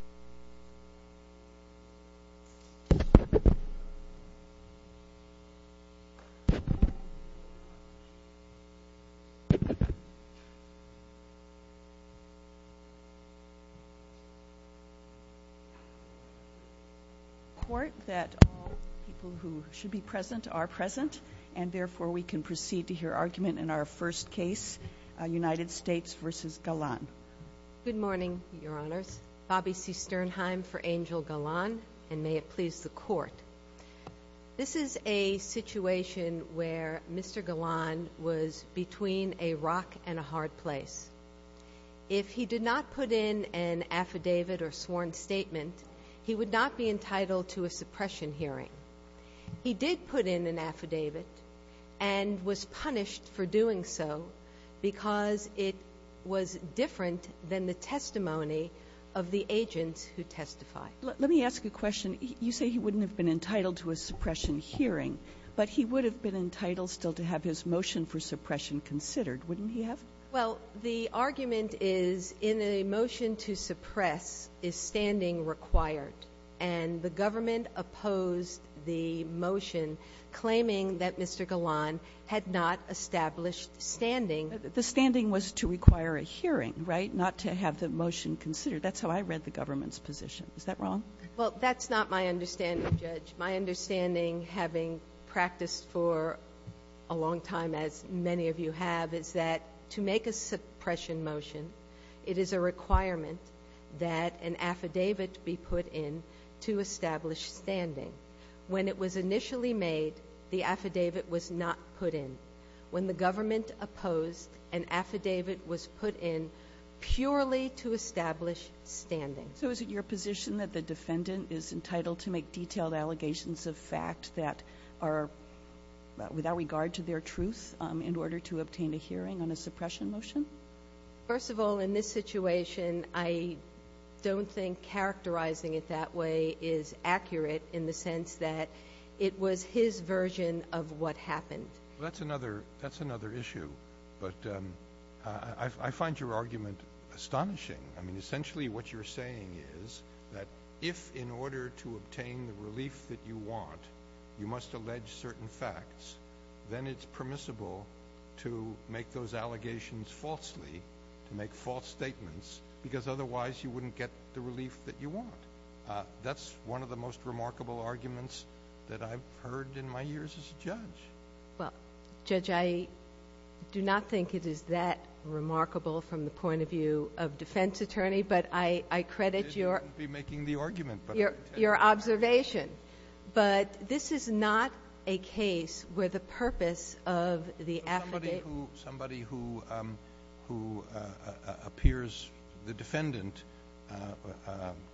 I report that all people who should be present are present, and therefore we can proceed to hear argument in our first case, United States v. Galan. Good morning, Your Honors. Bobbie C. Sternheim for Angel Galan, and may it please the Court. This is a situation where Mr. Galan was between a rock and a hard place. If he did not put in an affidavit or sworn statement, he would not be entitled to a suppression hearing. He did put in an affidavit, and was punished for doing so because it was different than the testimony of the agents who testified. Let me ask you a question. You say he wouldn't have been entitled to a suppression hearing, but he would have been entitled still to have his motion for suppression considered, wouldn't he have? Well, the argument is in a motion to suppress is standing required, and the government opposed the motion claiming that Mr. Galan had not established standing. The standing was to require a hearing, right, not to have the motion considered. That's how I read the government's position. Is that wrong? Well, that's not my understanding, Judge. My understanding, having practiced for a long time, as many of you have, is that to make a suppression motion, it is a requirement that an affidavit be put in to establish standing. When it was initially made, the affidavit was not put in. When the government opposed, an affidavit was put in purely to establish standing. So is it your position that the defendant is entitled to make detailed allegations of fact that are without regard to their truth in order to obtain a hearing on a situation? Well, in this situation, I don't think characterizing it that way is accurate in the sense that it was his version of what happened. That's another issue, but I find your argument astonishing. I mean, essentially what you're saying is that if in order to obtain the relief that you want, you must allege certain facts, then it's permissible to make those allegations falsely, to make false statements, because otherwise you wouldn't get the relief that you want. That's one of the most remarkable arguments that I've heard in my years as a judge. Well, Judge, I do not think it is that remarkable from the point of view of defense attorney, but I credit your observation. But this is not a case where the purpose of the affidavit... Somebody who appears the defendant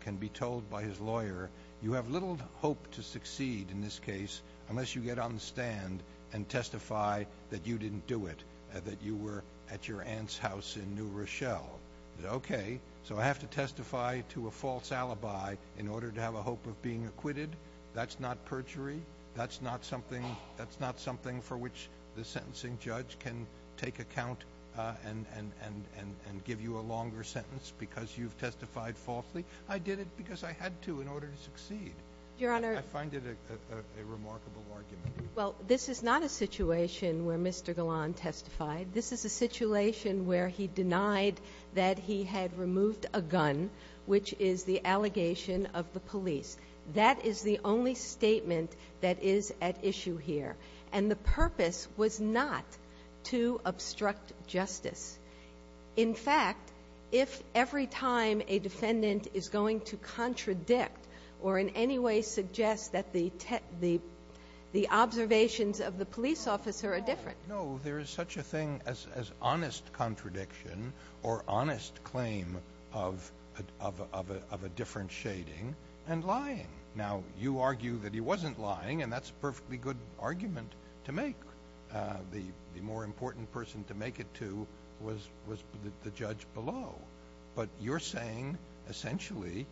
can be told by his lawyer, you have little hope to succeed in this case unless you get on the stand and testify that you didn't do it, that you were at your aunt's house in New Rochelle. Okay, so I have to testify to a false alibi in order to have a hope of being acquitted? That's not perjury. That's not something for which the sentencing judge can take account and give you a longer sentence because you've testified falsely. I did it because I had to in order to succeed. I find it a remarkable argument. Well, this is not a situation where Mr. Gallan testified. This is a situation where he denied that he had removed a gun, which is the allegation of the police. That is the only statement that is at issue here. And the purpose was not to obstruct justice. In fact, if every time a defendant is going to contradict or in any way suggest that the observations of the police officer are different... No, there is such a thing as honest contradiction or honest claim of a differentiating and lying. Now, you argue that he wasn't lying, and that's a perfectly good argument to make. The more important person to make it to was the judge below. But you're saying, essentially,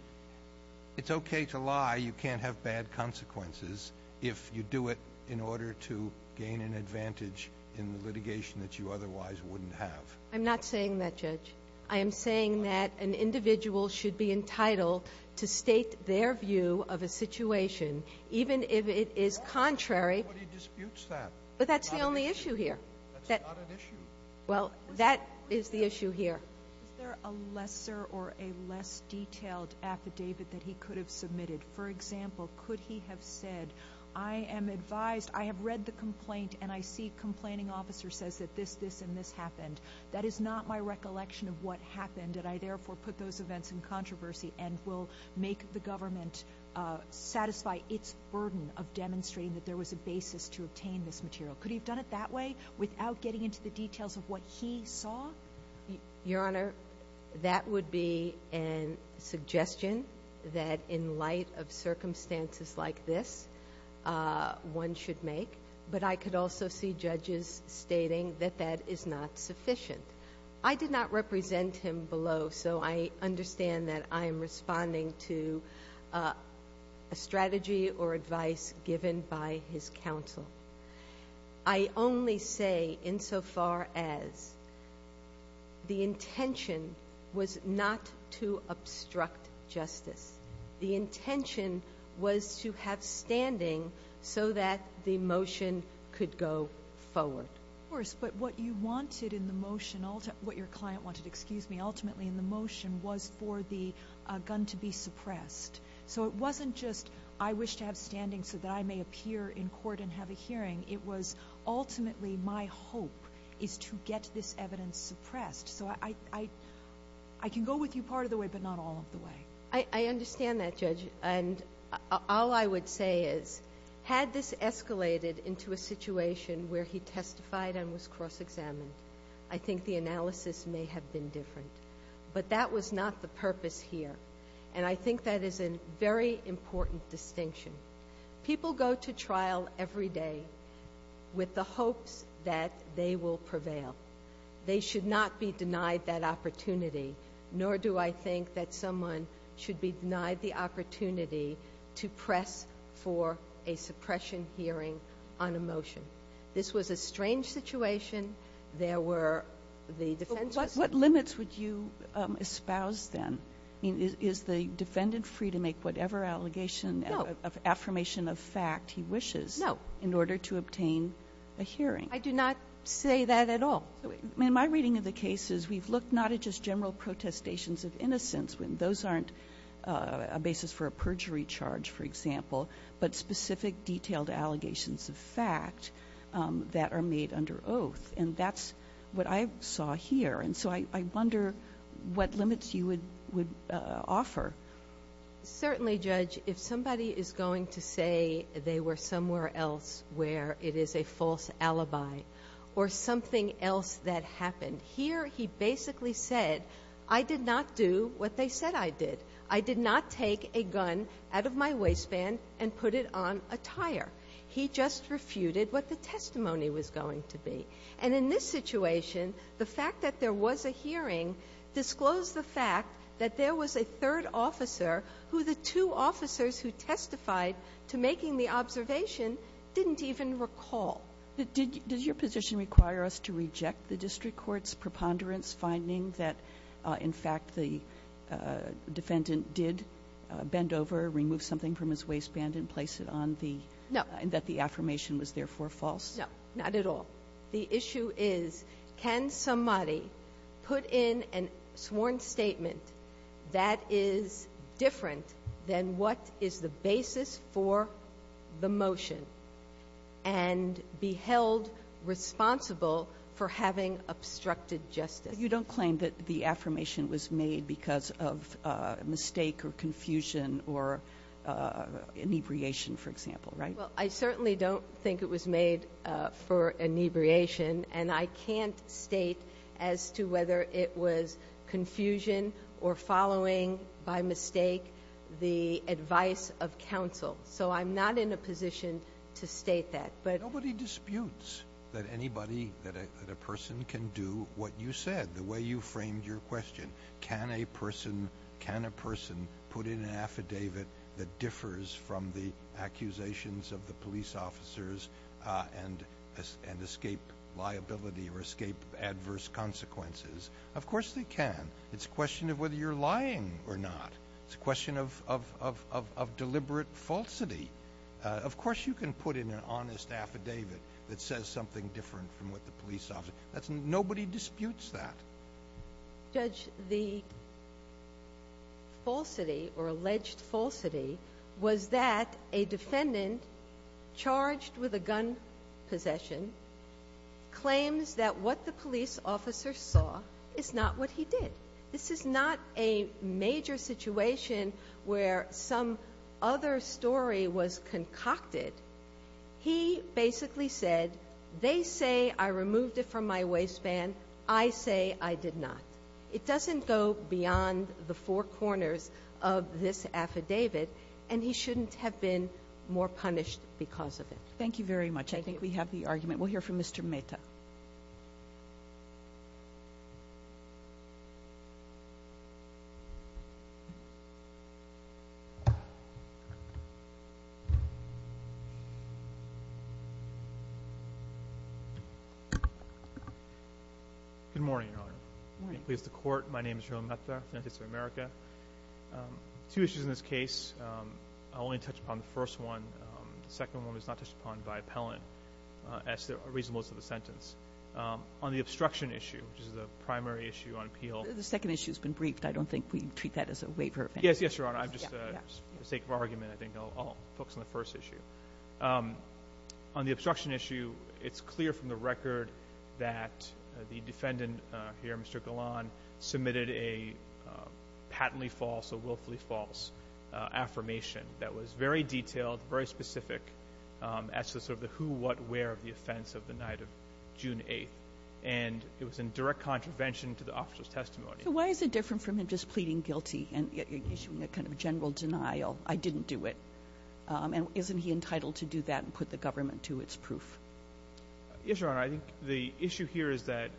it's okay to lie. You can't have bad consequences if you do it in order to gain an advantage in the litigation that you otherwise wouldn't have. I'm not saying that, Judge. I am saying that an individual should be entitled to state their view of a situation, even if it is contrary. Nobody disputes that. But that's the only issue here. That's not an issue. Well, that is the issue here. Is there a lesser or a less detailed affidavit that he could have submitted? For example, could he have said, I am advised, I have read the complaint, and I see complaining officer says that this, this, and this happened. That is not my recollection of what happened, and I therefore put those events in controversy and will make the government satisfy its burden of demonstrating that there was a basis to obtain this material. Could he have done it that way, without getting into the details of what he saw? Your Honor, that would be a suggestion that, in light of circumstances like this, one should make. But I could also see judges stating that that is not sufficient. I did not represent him below, so I understand that I am responding to a strategy or advice given by his counsel. I only say insofar as the intention was not to obstruct justice. The intention was to have standing so that the motion could go forward. Of course, but what you wanted in the motion, what your client wanted, excuse me, ultimately in the motion, was for the gun to be suppressed. So it was not just, I wish to have standing so that I may appear in court and have a hearing. It was, ultimately, my hope is to get this evidence suppressed. So I can go with you part of the way, but not all of the way. I understand that, Judge. And all I would say is, had this escalated into a situation where he testified and was cross-examined, I think the analysis may have been different. But that was not the purpose here. And I think that is a very important distinction. People go to trial every day with the hopes that they will prevail. They should not be denied that opportunity, nor do I think that someone should be denied the opportunity to press for a suppression hearing on a motion. This was a strange situation. There were, the defense was... What limits would you espouse then? I mean, is the defendant free to make whatever allegation, affirmation of fact he wishes in order to obtain a hearing? I do not say that at all. In my reading of the cases, we've looked not at just general protestations of innocence, those aren't a basis for a perjury charge, for example, but specific, detailed allegations of fact that are made under oath. And that's what I saw here. And so I wonder what limits you would offer. Certainly, Judge, if somebody is going to say they were somewhere else where it is a false alibi, or something else that happened, here he basically said, I did not do what they said I did. I did not take a gun out of my waistband and put it on a tire. He just refuted what the testimony was going to be. And in this situation, the fact that there was a hearing disclosed the fact that there was a third officer who the two officers who testified to making the observation didn't even recall. But did your position require us to reject the district court's preponderance finding that, in fact, the defendant did bend over, remove something from his waistband, and place it on the, that the affirmation was therefore false? No, not at all. The issue is, can somebody put in a sworn statement that is different than what is the basis for the motion and be held responsible for having obstructed justice? You don't claim that the affirmation was made because of a mistake or confusion or inebriation, for example, right? Well, I certainly don't think it was made for inebriation. And I can't state as to whether it was confusion or following by mistake the advice of counsel. So I'm not in a position to state that. But nobody disputes that anybody, that a person can do what you said, the way you framed your question. Can a person, can a person put in an affidavit that differs from the accusations of police officers and escape liability or escape adverse consequences? Of course they can. It's a question of whether you're lying or not. It's a question of deliberate falsity. Of course you can put in an honest affidavit that says something different from what the police officer, that's, nobody disputes that. Judge, the falsity or alleged falsity was that a defendant charged with a gun possession claims that what the police officer saw is not what he did. This is not a major situation where some other story was concocted. He basically said, they say I removed it from my waistband. I say I did not. It doesn't go beyond the four corners of this affidavit. And he shouldn't have been more punished because of it. Thank you very much. I think we have the argument. We'll hear from Mr. Mehta. Good morning, Your Honor. Pleased to court. My name is Jerome Mehta, United States of America. Two issues in this case. I'll only touch upon the first one. The second one was not touched upon by appellant as the reasonableness of the sentence. On the obstruction issue, which is the primary issue on appeal. The second issue has been briefed. I don't think we treat that as a waiver. Yes, yes, Your Honor. I'm just, for the sake of argument, I think I'll focus on the first issue. On the obstruction issue, it's clear from the record that the defendant here, Mr. Golan, submitted a patently false or willfully false affirmation that was very detailed, very specific as to sort of the who, what, where of the offense of the night of June 8th. And it was in direct contravention to the officer's testimony. So why is it different from him just pleading guilty and issuing a kind of general denial? I didn't do it. And isn't he entitled to do that and put the government to its proof? Yes, Your Honor. I think the issue here is that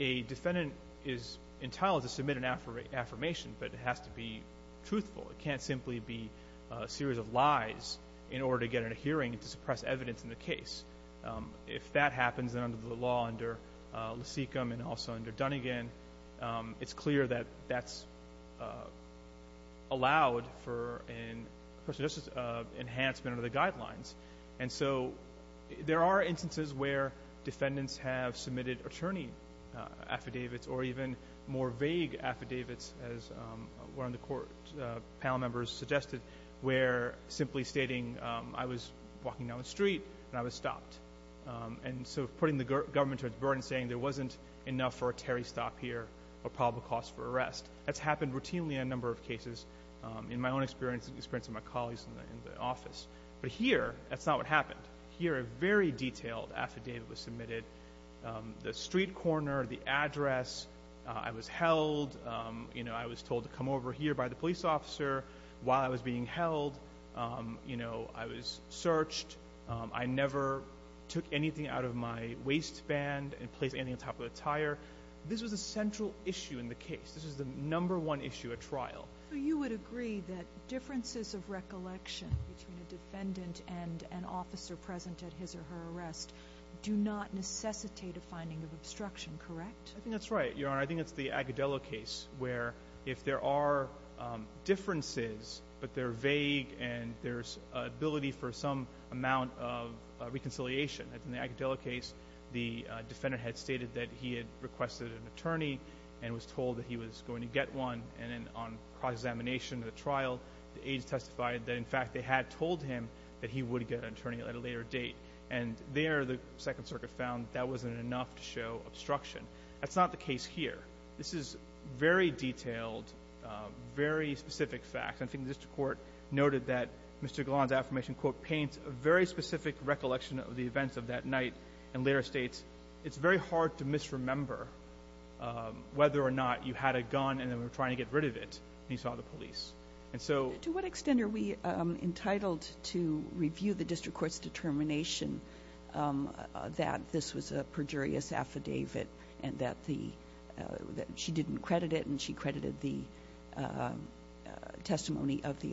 a defendant is entitled to submit an affirmation, but it has to be truthful. It can't simply be a series of lies in order to get in a hearing to suppress evidence in the case. If that happens under the law under Lasekum and also under an enhanced under the guidelines. And so there are instances where defendants have submitted attorney affidavits or even more vague affidavits as one of the court panel members suggested, where simply stating, I was walking down the street and I was stopped. And so putting the government to its burden saying there wasn't enough for a Terry stop here or probable cost for arrest. That's happened routinely in a number of cases in my own experience, in the experience of my colleagues in the office. But here, that's not what happened. Here, a very detailed affidavit was submitted. The street corner, the address, I was held. You know, I was told to come over here by the police officer while I was being held. You know, I was searched. I never took anything out of my waistband and placed anything on top of the tire. This was a central issue in the case. This is the number one issue at trial. So you would agree that differences of recollection between a defendant and an officer present at his or her arrest do not necessitate a finding of obstruction, correct? I think that's right, Your Honor. I think it's the Agudelo case where if there are differences, but they're vague and there's ability for some amount of reconciliation. In the Agudelo case, the defendant had stated that he had requested an attorney and was told that he was going to get one. And then on cross-examination of the trial, the aides testified that, in fact, they had told him that he would get an attorney at a later date. And there, the Second Circuit found that wasn't enough to show obstruction. That's not the case here. This is very detailed, very specific facts. I think the district court noted that Mr. Golan's affirmation, quote, a very specific recollection of the events of that night and later states, it's very hard to misremember whether or not you had a gun and then were trying to get rid of it when you saw the police. And so... To what extent are we entitled to review the district court's determination that this was a perjurious affidavit and that she didn't credit it and she credited the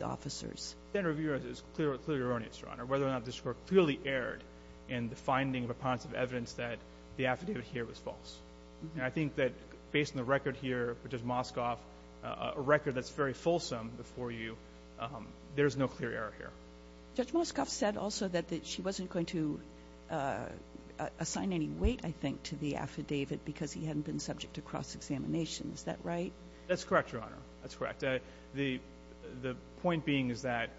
officers? Whether or not the district court clearly erred in the finding of evidence that the affidavit here was false. And I think that based on the record here, Judge Moscoff, a record that's very fulsome before you, there's no clear error here. Judge Moscoff said also that she wasn't going to assign any weight, I think, to the affidavit because he hadn't been subject to cross-examination. Is that right? That's correct, Your Honor. That's correct. The point being is that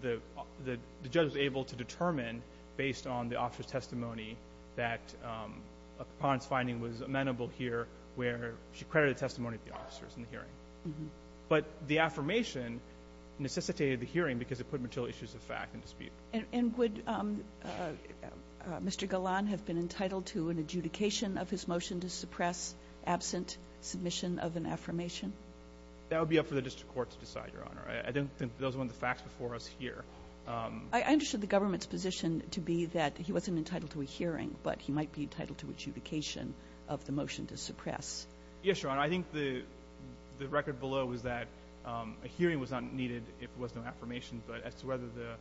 the judge was able to determine, based on the officer's testimony, that a preponderance finding was amenable here where she credited the testimony of the officers in the hearing. But the affirmation necessitated the hearing because it put material issues of fact in dispute. And would Mr. Golan have been entitled to an adjudication of his motion to suppress absent submission of an affirmation? That would be up for the district court to decide, Your Honor. I don't think those were the facts before us here. I understood the government's position to be that he wasn't entitled to a hearing, but he might be entitled to adjudication of the motion to suppress. Yes, Your Honor. I think the record below was that a hearing was not needed if there was no affirmation. But as to whether the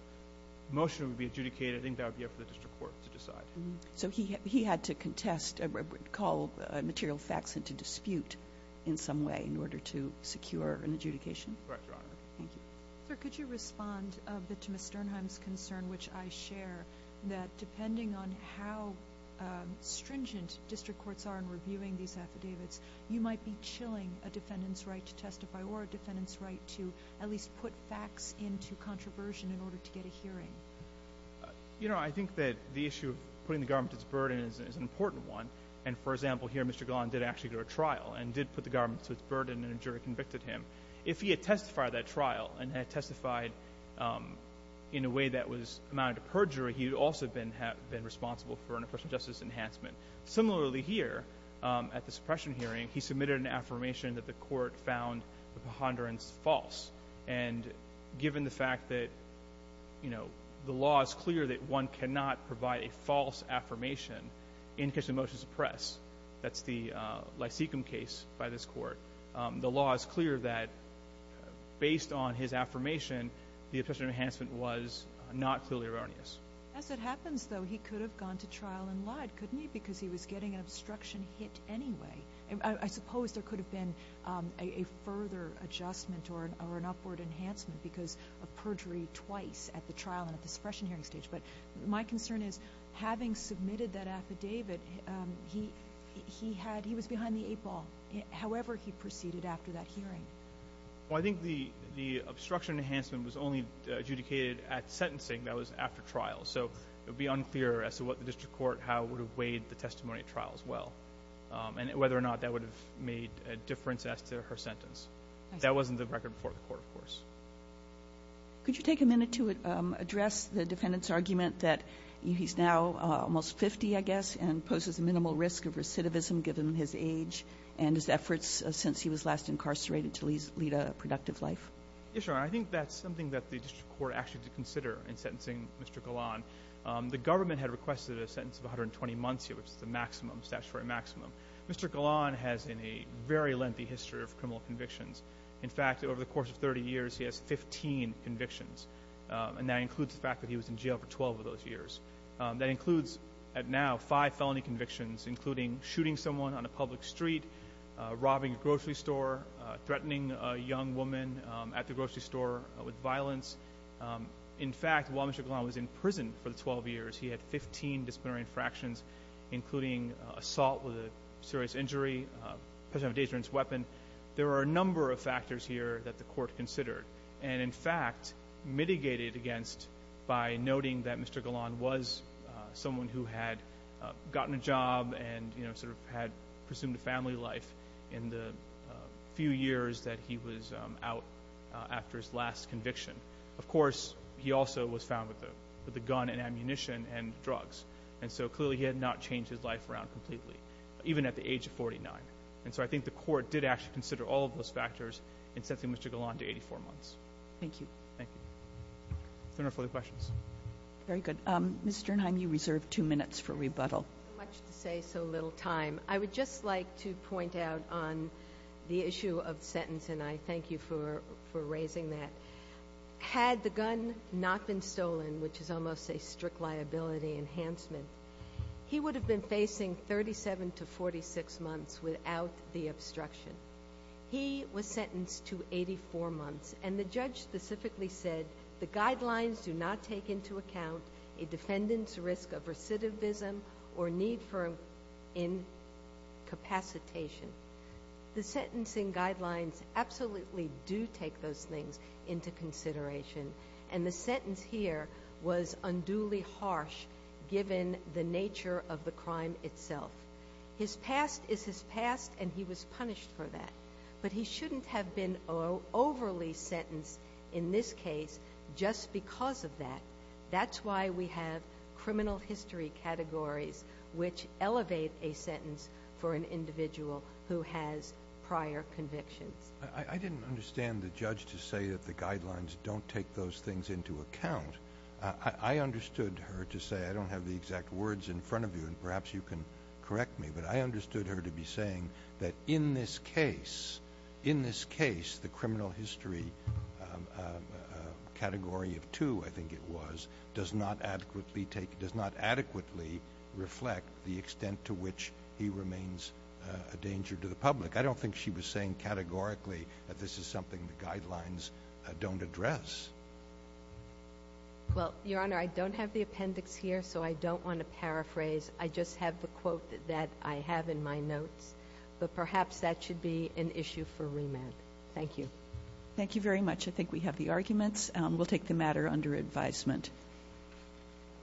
motion would be adjudicated, I think that would be up for the district court to decide. And if there is a motion to dispute in some way in order to secure an adjudication. Correct, Your Honor. Thank you. Sir, could you respond a bit to Ms. Sternheim's concern which I share, that depending on how stringent district courts are in reviewing these affidavits, you might be chilling a defendant's right to testify or a defendant's right to at least put facts into controversy in order to get a hearing. You know, I think that the issue of putting the government at its burden is an important one. And for example, here Mr. Golan did actually go to trial and did put the government to its burden and a jury convicted him. If he had testified at that trial and had testified in a way that was amounted to perjury, he would also have been responsible for an oppression justice enhancement. Similarly here at the suppression hearing, he submitted an affirmation that the court found the ponderance false. And given the fact that, you know, the law is clear that one cannot provide a false affirmation in case of a motion to suppress. That's the Lysikom case by this court. The law is clear that based on his affirmation, the oppression enhancement was not clearly erroneous. As it happens though, he could have gone to trial and lied, couldn't he? Because he was getting an obstruction hit anyway. I suppose there could have been a further adjustment or an upward enhancement because of perjury twice at the trial and at the suppression hearing stage. But my concern is having submitted that affidavit, he was behind the eight ball however he proceeded after that hearing. Well I think the obstruction enhancement was only adjudicated at sentencing, that was after trial. So it would be unclear as to what the district court, how it would have weighed the testimony at trial as well. And whether or not that would have made a difference as to her sentence. That wasn't the record before the court of course. Could you take a minute to address the he's now almost 50 I guess and poses a minimal risk of recidivism given his age and his efforts since he was last incarcerated to lead a productive life? Yeah sure. I think that's something that the district court actually did consider in sentencing Mr. Galan. The government had requested a sentence of 120 months here, which is the maximum, statutory maximum. Mr. Galan has a very lengthy history of criminal convictions. In fact, over the course of 30 years, he has 15 convictions. And that includes the fact that he was in jail for 12 of those years. That includes at now five felony convictions, including shooting someone on a public street, robbing a grocery store, threatening a young woman at the grocery store with violence. In fact, while Mr. Galan was in prison for the 12 years, he had 15 disciplinary infractions, including assault with a serious injury, possession of a dangerous weapon. There are a number of factors here that the court considered and in fact mitigated against by noting that Mr. Galan was someone who had gotten a job and sort of had presumed a family life in the few years that he was out after his last conviction. Of course, he also was found with the gun and ammunition and drugs. And so clearly he had not changed his life around completely, even at the age of 49. And so I think the court did actually consider all of those factors in sending Mr. Galan to 84 months. Thank you. Thank you. If there are no further questions. Very good. Ms. Sternheim, you reserve two minutes for rebuttal. So much to say, so little time. I would just like to point out on the issue of the sentence, and I thank you for raising that. Had the gun not been stolen, which is almost a strict liability enhancement, he would have been facing 37 to 46 months without the obstruction. He was sentenced to 84 months and the judge specifically said the guidelines do not take into account a defendant's risk of recidivism or need for incapacitation. The sentencing guidelines absolutely do take those things into consideration. And the sentence here was unduly harsh given the nature of the crime itself. His past is his past and he was punished for that. But he shouldn't have been overly sentenced in this case just because of that. That's why we have criminal history categories which elevate a sentence for an individual who has prior convictions. I didn't understand the judge to say that the guidelines don't take those things into account. I understood her to say, I don't have the exact words in front of you and perhaps you can correct me, but I understood her to be saying that in this case, in this case, the criminal history category of two, I think it was, does not adequately take, does not adequately reflect the that this is something the guidelines don't address. Well, Your Honor, I don't have the appendix here, so I don't want to paraphrase. I just have the quote that I have in my notes, but perhaps that should be an issue for remand. Thank you. Thank you very much. I think we have the arguments. We'll take the matter under advisement.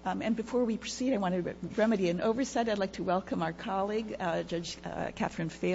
And before we proceed, I want to remedy an oversight. I'd like to welcome our colleague, Judge Catherine Fales.